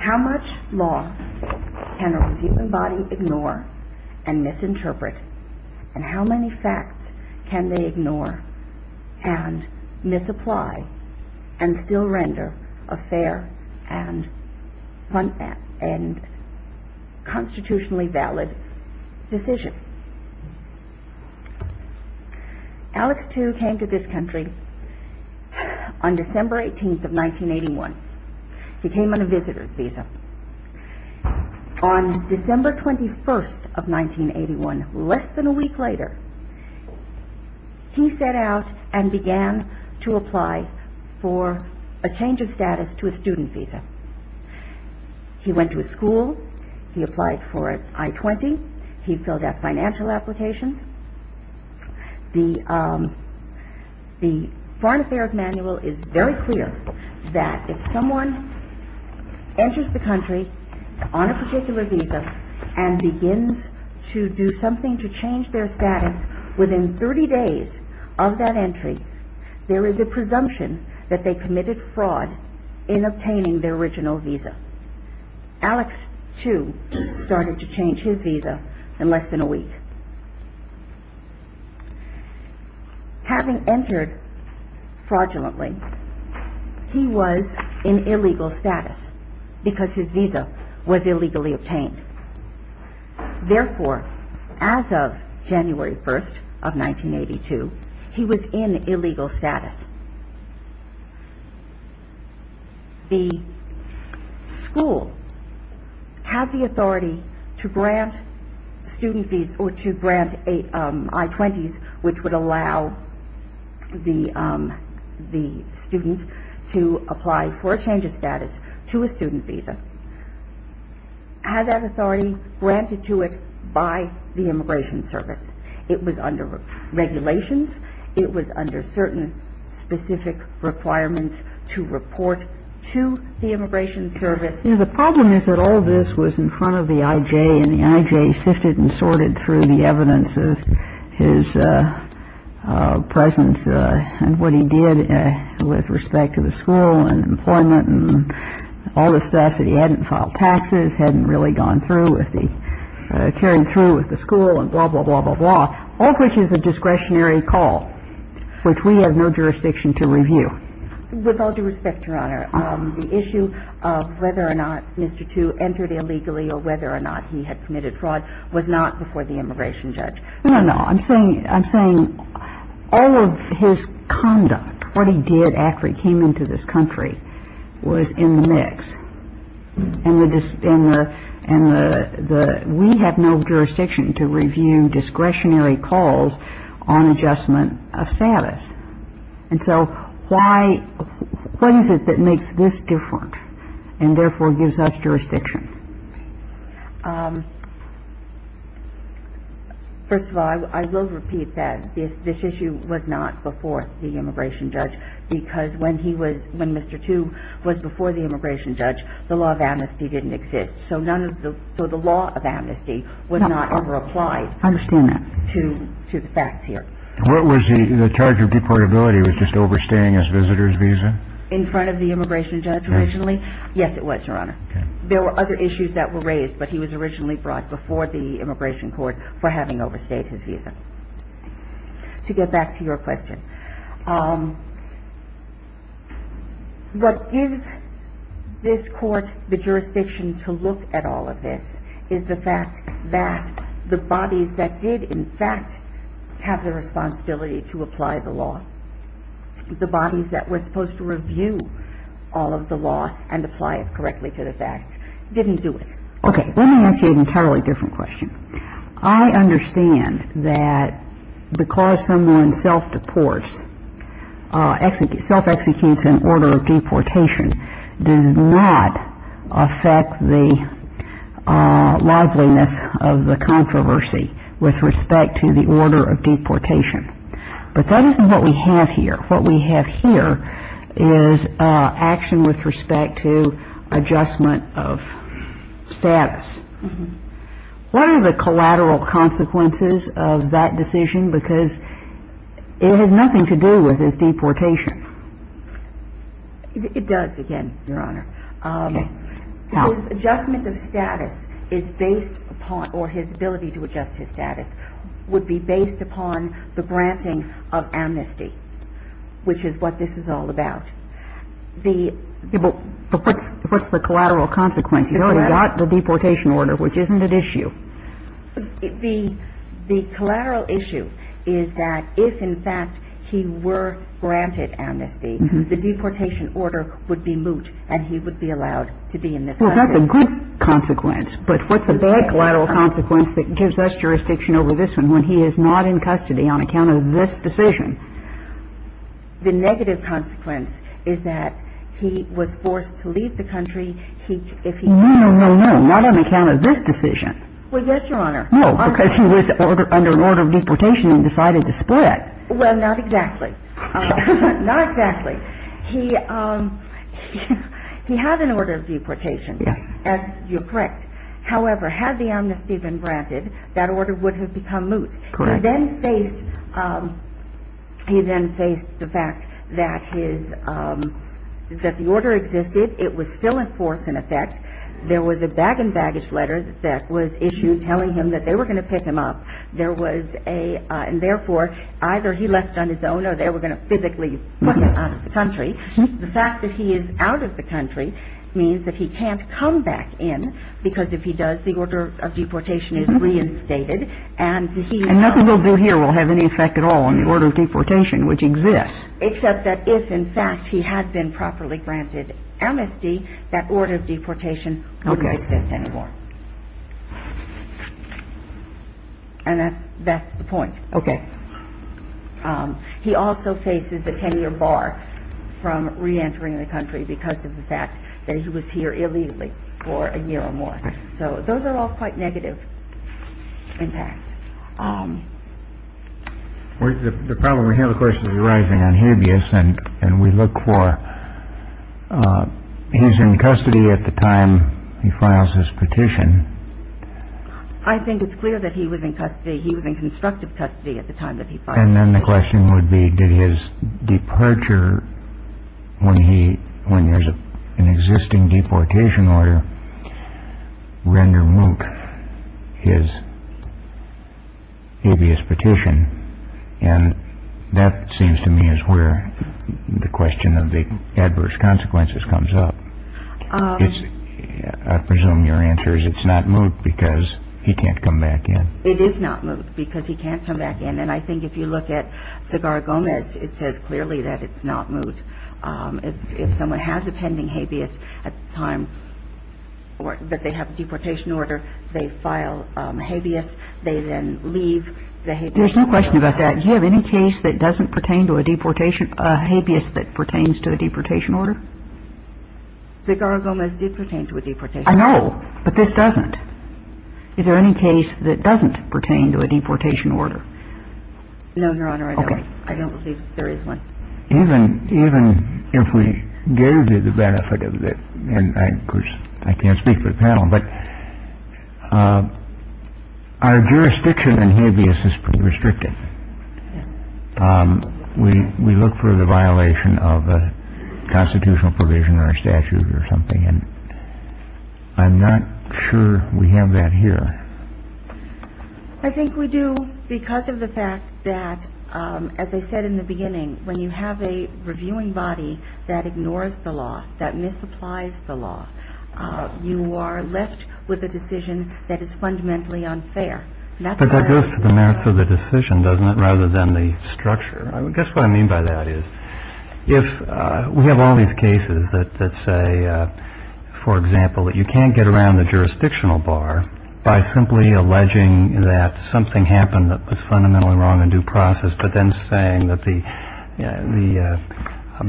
How much law can a human body ignore and misinterpret, and how many facts can they ignore and misinterpret? and still render a fair and constitutionally valid decision? Alex Tiu came to this country on December 18th of 1981. He came on a visitor's visa. On December 21st of 1981, less than a week later, he set out and began to investigate for a change of status to a student visa. He went to a school. He applied for an I-20. He filled out financial applications. The Foreign Affairs Manual is very clear that if someone enters the country on a particular visa and begins to do something to change their status within 30 days of that entry, there is a presumption that they committed fraud in obtaining their original visa. Alex Tiu started to change his visa in less than a week. Having entered fraudulently, he was in illegal status because his visa was illegally issued. On January 1st of 1982, he was in illegal status. The school had the authority to grant I-20s, which would allow the student to apply for a change of status to a student visa. In the meantime, the immigration service was under regulations. It was under certain specific requirements to report to the immigration service. The problem is that all this was in front of the I.J., and the I.J. sifted and sorted through the evidence of his presence and what he did with respect to the school and employment and all the stuff that he hadn't filed taxes, hadn't really gone through with the ‑‑ carried through with the school and blah, blah, blah, blah, blah, all of which is a discretionary call, which we have no jurisdiction to review. With all due respect, Your Honor, the issue of whether or not Mr. Tiu entered illegally or whether or not he had committed fraud was not before the immigration judge. No, no. I'm saying ‑‑ I'm saying all of his conduct, what he did after he came into this country was in the mix. And the ‑‑ and the ‑‑ we have no jurisdiction to review discretionary calls on adjustment of status. And so why ‑‑ what is it that makes this different and therefore gives us jurisdiction? First of all, I will repeat that. This issue was not before the immigration judge because when he was ‑‑ when Mr. Tiu was before the immigration judge, the law of amnesty didn't exist. So none of the ‑‑ so the law of amnesty was not ever applied to the facts here. I understand that. What was the ‑‑ the charge of deportability was just overstaying his visitor's visa? In front of the immigration judge originally? Yes. Yes, it was, Your Honor. Okay. There were other issues that were raised, but he was originally brought before the immigration court for having overstayed his visa. To get back to your question, what gives this court the jurisdiction to look at all of this is the fact that the bodies that did in fact have the responsibility to apply the law, the bodies that were supposed to review all of the law and apply it correctly to the facts, didn't do it. Okay. Let me ask you an entirely different question. I understand that because someone self‑deports, self‑executes in order of deportation, does not affect the liveliness of the controversy with respect to the order of deportation. But that isn't what we have here. What we have here is action with respect to adjustment of status. What are the collateral consequences of that decision? Because it has nothing to do with his deportation. It does, again, Your Honor. Okay. How? His adjustment of status is based upon ‑‑ or his ability to adjust his status would be based upon the granting of amnesty, which is what this is all about. The ‑‑ But what's the collateral consequence? He's already got the deportation order, which isn't at issue. The collateral issue is that if in fact he were granted amnesty, the deportation order would be moot and he would be allowed to be in this country. Well, that's a good consequence. But what's a bad collateral consequence that gives us jurisdiction over this one when he is not in custody on account of this decision? The negative consequence is that he was forced to leave the country if he could. No, no, no. Not on account of this decision. Well, yes, Your Honor. No, because he was under an order of deportation and decided to split. Well, not exactly. Not exactly. He had an order of deportation. Yes. You're correct. However, had the amnesty been granted, that order would have become moot. Correct. He then faced the fact that his ‑‑ that the order existed. It was still in force, in effect. There was a bag and baggage letter that was issued telling him that they were going to pick him up. There was a ‑‑ and therefore, either he left on his own or they were going to physically put him out of the country. The fact that he is out of the country means that he can't come back in because if he does, the order of deportation is reinstated. And nothing he'll do here will have any effect at all on the order of deportation which exists. Except that if, in fact, he had been properly granted amnesty, that order of deportation wouldn't exist anymore. Okay. And that's the point. Okay. He also faces a 10‑year bar from reentering the country because of the fact that he was here illegally for a year or more. Okay. So those are all quite negative impacts. The problem we hear, of course, is arising on habeas and we look for he's in custody at the time he files his petition. I think it's clear that he was in custody. He was in constructive custody at the time that he filed his petition. And then the question would be did his departure, when there's an existing deportation order, render moot his habeas petition? And that seems to me is where the question of the adverse consequences comes up. I presume your answer is it's not moot because he can't come back in. It is not moot because he can't come back in. And I think if you look at Cigar Gomez, it says clearly that it's not moot. If someone has a pending habeas at the time that they have a deportation order, they file habeas, they then leave the habeas. There's no question about that. Your Honor, do you have any case that doesn't pertain to a deportation, a habeas that pertains to a deportation order? Cigar Gomez did pertain to a deportation order. I know, but this doesn't. Is there any case that doesn't pertain to a deportation order? No, Your Honor, I don't. Okay. I don't believe there is one. Even if we gave you the benefit of the, and of course I can't speak for the panel, but our jurisdiction in habeas is pretty restricted. We look for the violation of a constitutional provision or a statute or something, and I'm not sure we have that here. I think we do because of the fact that, as I said in the beginning, when you have a reviewing body that ignores the law, that misapplies the law, you are left with a decision that is fundamentally unfair. But that goes to the merits of the decision, doesn't it, rather than the structure? I guess what I mean by that is if we have all these cases that say, for example, that you can't get around the jurisdictional bar by simply alleging that something happened that was fundamentally wrong in due process, but then saying that the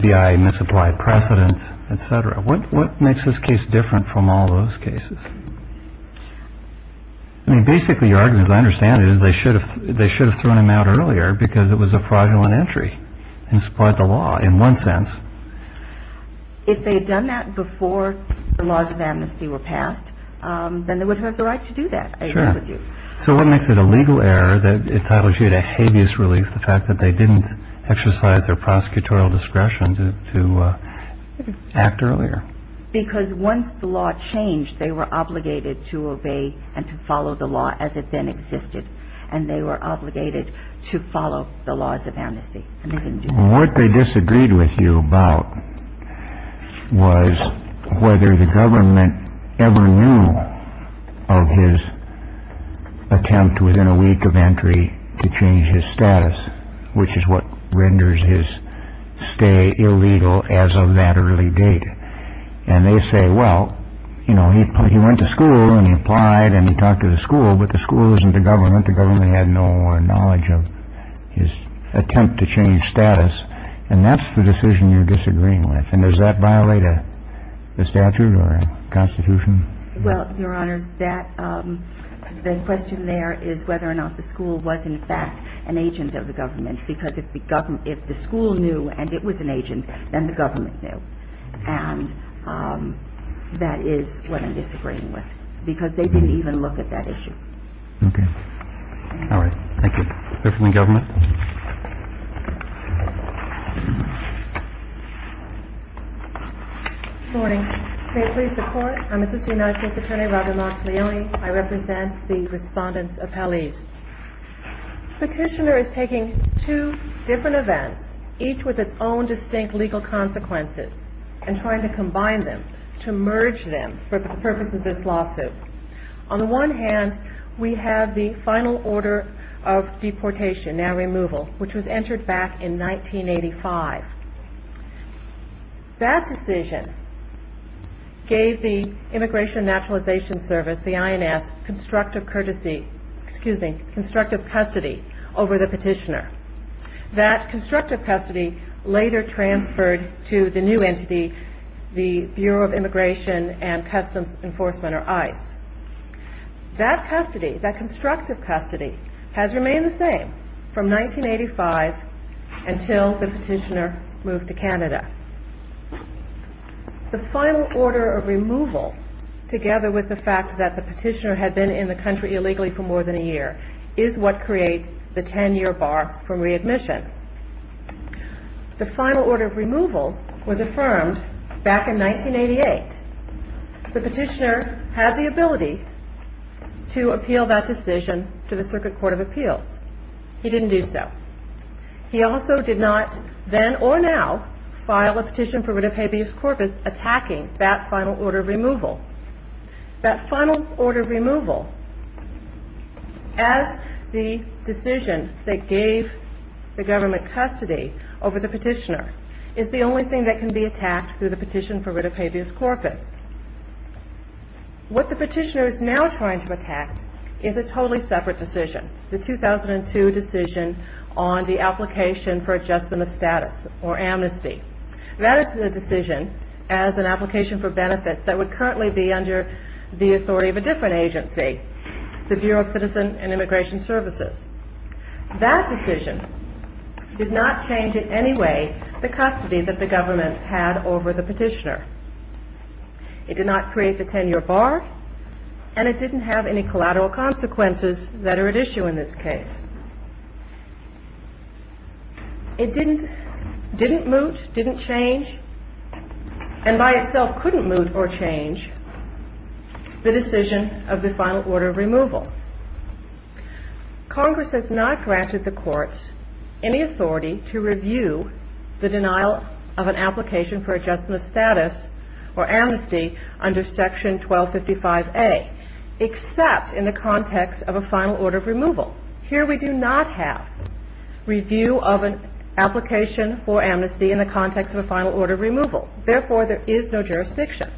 BIA misapplied precedent, et cetera. What makes this case different from all those cases? I mean, basically your argument, as I understand it, is they should have thrown him out earlier because it was a fraudulent entry in spite of the law in one sense. If they had done that before the laws of amnesty were passed, then they would have had the right to do that, I agree with you. Sure. So what makes it a legal error that entitles you to habeas relief, the fact that they didn't exercise their prosecutorial discretion to act earlier? Because once the law changed, they were obligated to obey and to follow the law as it then existed, and they were obligated to follow the laws of amnesty, and they didn't do that. What they disagreed with you about was whether the government ever knew of his attempt within a week of entry to change his status, which is what renders his stay illegal as of that early date. And they say, well, you know, he went to school and he applied and he talked to the school, but the school wasn't the government. The government had no knowledge of his attempt to change status. And that's the decision you're disagreeing with. And does that violate a statute or a constitution? Well, Your Honors, the question there is whether or not the school was in fact an agent of the government, because if the school knew and it was an agent, then the government knew. And that is what I'm disagreeing with, because they didn't even look at that issue. Okay. All right. Thank you. Go to the government. Good morning. May it please the Court. I'm Assistant United States Attorney Robin Lazzarone. I represent the respondents' appellees. Petitioner is taking two different events, each with its own distinct legal consequences, and trying to combine them, to merge them for the purpose of this lawsuit. On the one hand, we have the final order of deportation. Now, removal, which was entered back in 1985. That decision gave the Immigration and Naturalization Service, the INS, constructive courtesy, excuse me, constructive custody over the petitioner. That constructive custody later transferred to the new entity, the Bureau of Immigration and Customs Enforcement, or ICE. That custody, that constructive custody, has remained the same from 1985 until the petitioner moved to Canada. The final order of removal, together with the fact that the petitioner had been in the country illegally for more than a year, is what creates the 10-year bar for readmission. The final order of removal was affirmed back in 1988. The petitioner had the ability to appeal that decision to the Circuit Court of Appeals. He didn't do so. He also did not, then or now, file a petition for writ of habeas corpus attacking that final order of removal. That final order of removal, as the decision that gave the government custody over the petitioner, is the only thing that can be attacked through the petition for writ of habeas corpus. What the petitioner is now trying to attack is a totally separate decision, the 2002 decision on the application for adjustment of status or amnesty. That is the decision as an application for benefits that would currently be under the authority of a different agency, the Bureau of Citizen and Immigration Services. That decision did not change in any way the custody that the government had over the petitioner. It did not create the 10-year bar, and it didn't have any collateral consequences that are at issue in this case. It didn't moot, didn't change, and by itself couldn't moot or change the decision of the final order of removal. Congress has not granted the courts any authority to review the denial of an application for adjustment of status or amnesty under Section 1255A, except in the context of a final order of removal. Here we do not have review of an application for amnesty in the context of a final order of removal. Therefore, there is no jurisdiction.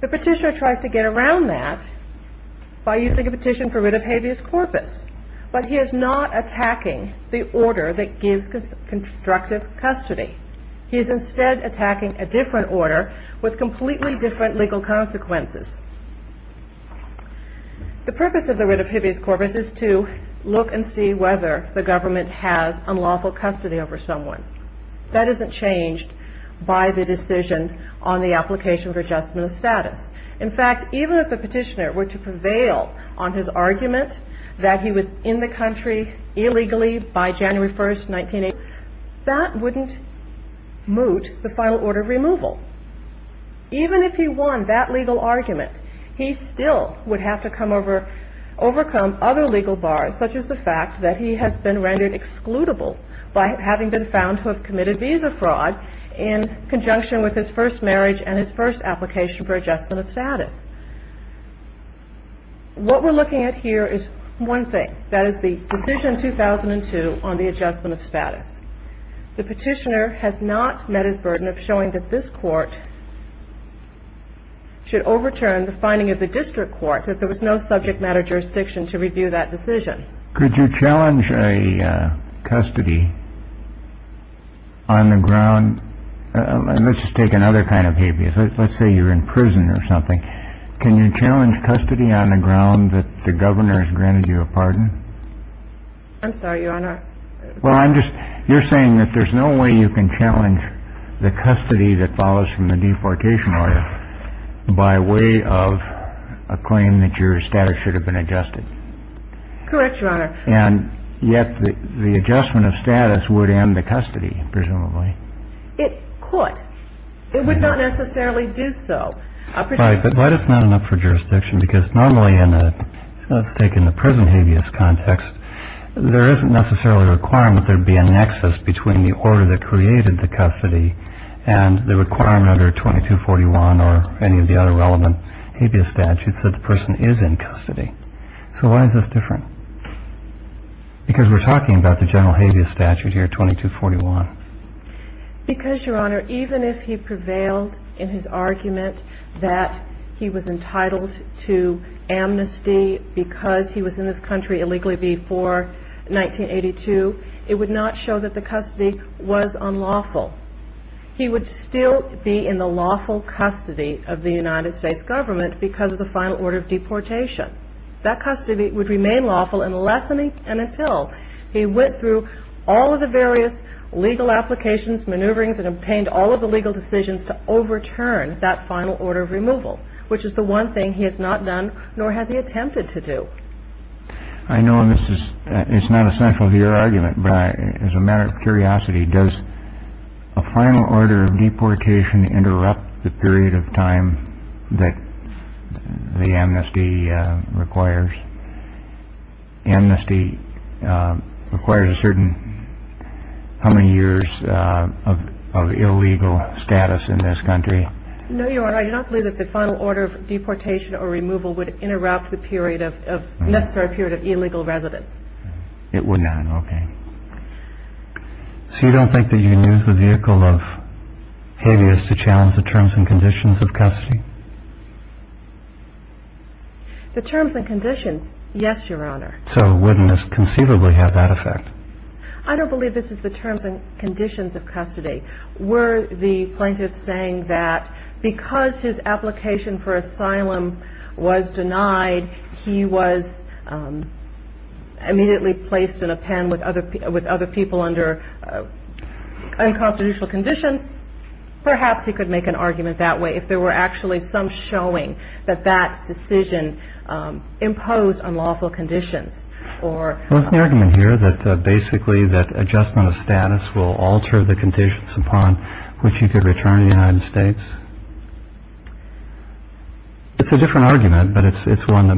The petitioner tries to get around that by using a petition for writ of habeas corpus, but he is not attacking the order that gives constructive custody. He is instead attacking a different order with completely different legal consequences. The purpose of the writ of habeas corpus is to look and see whether the government has unlawful custody over someone. That isn't changed by the decision on the application for adjustment of status. In fact, even if the petitioner were to prevail on his argument that he was in the country illegally by January 1st, 1980, that wouldn't moot the final order of removal. Even if he won that legal argument, he still would have to come over, overcome other legal bars, such as the fact that he has been rendered excludable by having been found to have committed visa fraud in conjunction with his first marriage and his first application for adjustment of status. What we're looking at here is one thing. That is the decision in 2002 on the adjustment of status. The petitioner has not met his burden of showing that this court should overturn the finding of the district court, that there was no subject matter jurisdiction to review that decision. Could you challenge a custody on the ground? Let's just take another kind of habeas. Let's say you're in prison or something. Can you challenge custody on the ground that the governor has granted you a pardon? I'm sorry, Your Honor. Well, I'm just you're saying that there's no way you can challenge the custody that follows from the deportation order by way of a claim that your status should have been adjusted. Correct, Your Honor. And yet the adjustment of status would end the custody, presumably. It could. It would not necessarily do so. Right. But why does it not enough for jurisdiction? Because normally in a, let's take in the prison habeas context, there isn't necessarily a requirement there would be a nexus between the order that created the custody and the requirement under 2241 or any of the other relevant habeas statutes that the person is in custody. So why is this different? Because we're talking about the general habeas statute here, 2241. Because, Your Honor, even if he prevailed in his argument that he was entitled to amnesty because he was in this country illegally before 1982, it would not show that the custody was unlawful. He would still be in the lawful custody of the United States government because of the final order of deportation. That custody would remain lawful unless and until he went through all of the various legal applications, maneuverings, and obtained all of the legal decisions to overturn that final order of removal, which is the one thing he has not done nor has he attempted to do. I know this is not essential to your argument, but as a matter of curiosity, does a final order of deportation interrupt the period of time that the amnesty requires? Amnesty requires a certain how many years of illegal status in this country? No, Your Honor, I do not believe that the final order of deportation or removal would interrupt the necessary period of illegal residence. It would not, okay. So you don't think that you can use the vehicle of habeas to challenge the terms and conditions of custody? The terms and conditions, yes, Your Honor. So wouldn't this conceivably have that effect? I don't believe this is the terms and conditions of custody. Were the plaintiff saying that because his application for asylum was denied, he was immediately placed in a pen with other people under unconstitutional conditions? Perhaps he could make an argument that way, if there were actually some showing that that decision imposed unlawful conditions. Well, isn't the argument here that basically that adjustment of status will alter the conditions upon which he could return to the United States? It's a different argument, but it's one that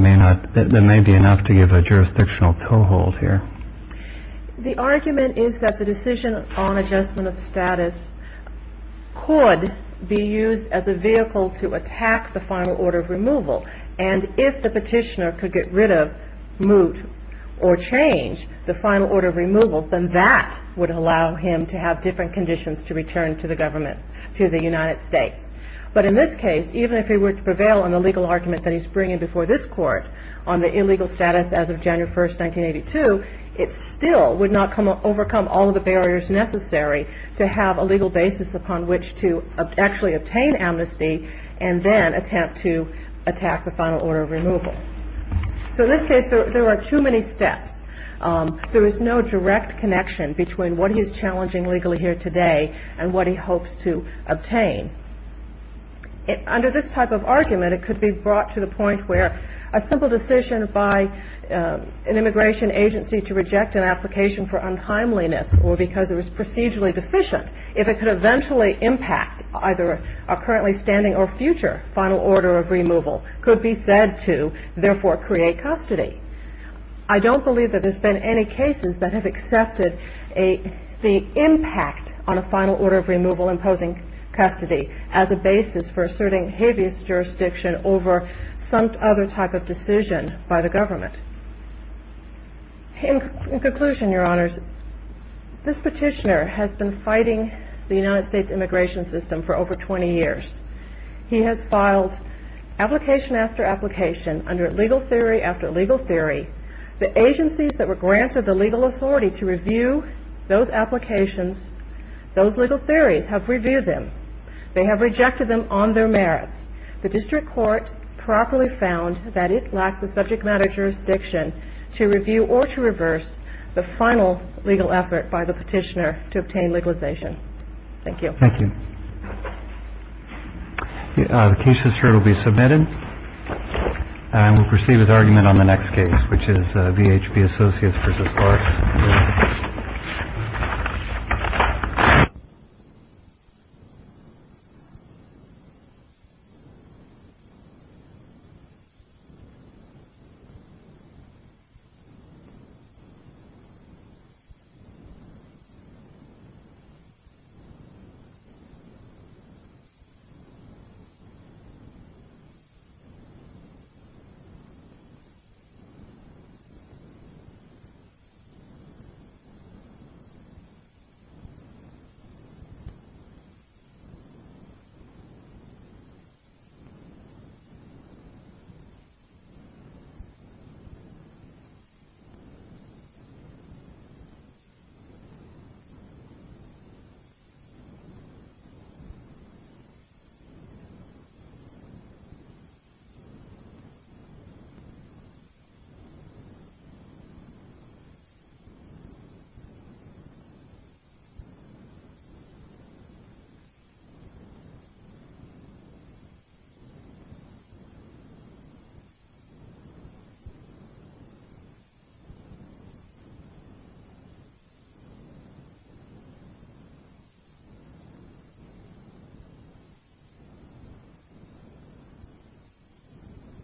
may be enough to give a jurisdictional toehold here. The argument is that the decision on adjustment of status could be used as a vehicle to attack the final order of removal, and if the petitioner could get rid of, moot, or change the final order of removal, then that would allow him to have different conditions to return to the government, to the United States. But in this case, even if he were to prevail on the legal argument that he's bringing before this Court on the illegal status as of January 1st, 1982, it still would not overcome all of the barriers necessary to have a legal basis upon which to actually obtain amnesty and then attempt to attack the final order of removal. So in this case, there are too many steps. There is no direct connection between what he is challenging legally here today and what he hopes to obtain. Under this type of argument, it could be brought to the point where a simple decision by an immigration agency to reject an application for untimeliness or because it was procedurally deficient, if it could eventually impact either a currently standing or future final order of removal, could be said to therefore create custody. I don't believe that there's been any cases that have accepted the impact on a final order of removal imposing custody as a basis for asserting habeas jurisdiction over some other type of decision by the government. In conclusion, Your Honors, this petitioner has been fighting the United States immigration system for over 20 years. He has filed application after application under legal theory after legal theory. The agencies that were granted the legal authority to review those applications, those legal theories, have reviewed them. They have rejected them on their merits. The district court properly found that it lacks the subject matter jurisdiction to review or to reverse the final legal effort by the petitioner to obtain legalization. Thank you. Thank you. The case is here to be submitted. And we'll proceed with argument on the next case, which is VHP Associates versus Clarks. Thank you. Thank you. Thank you.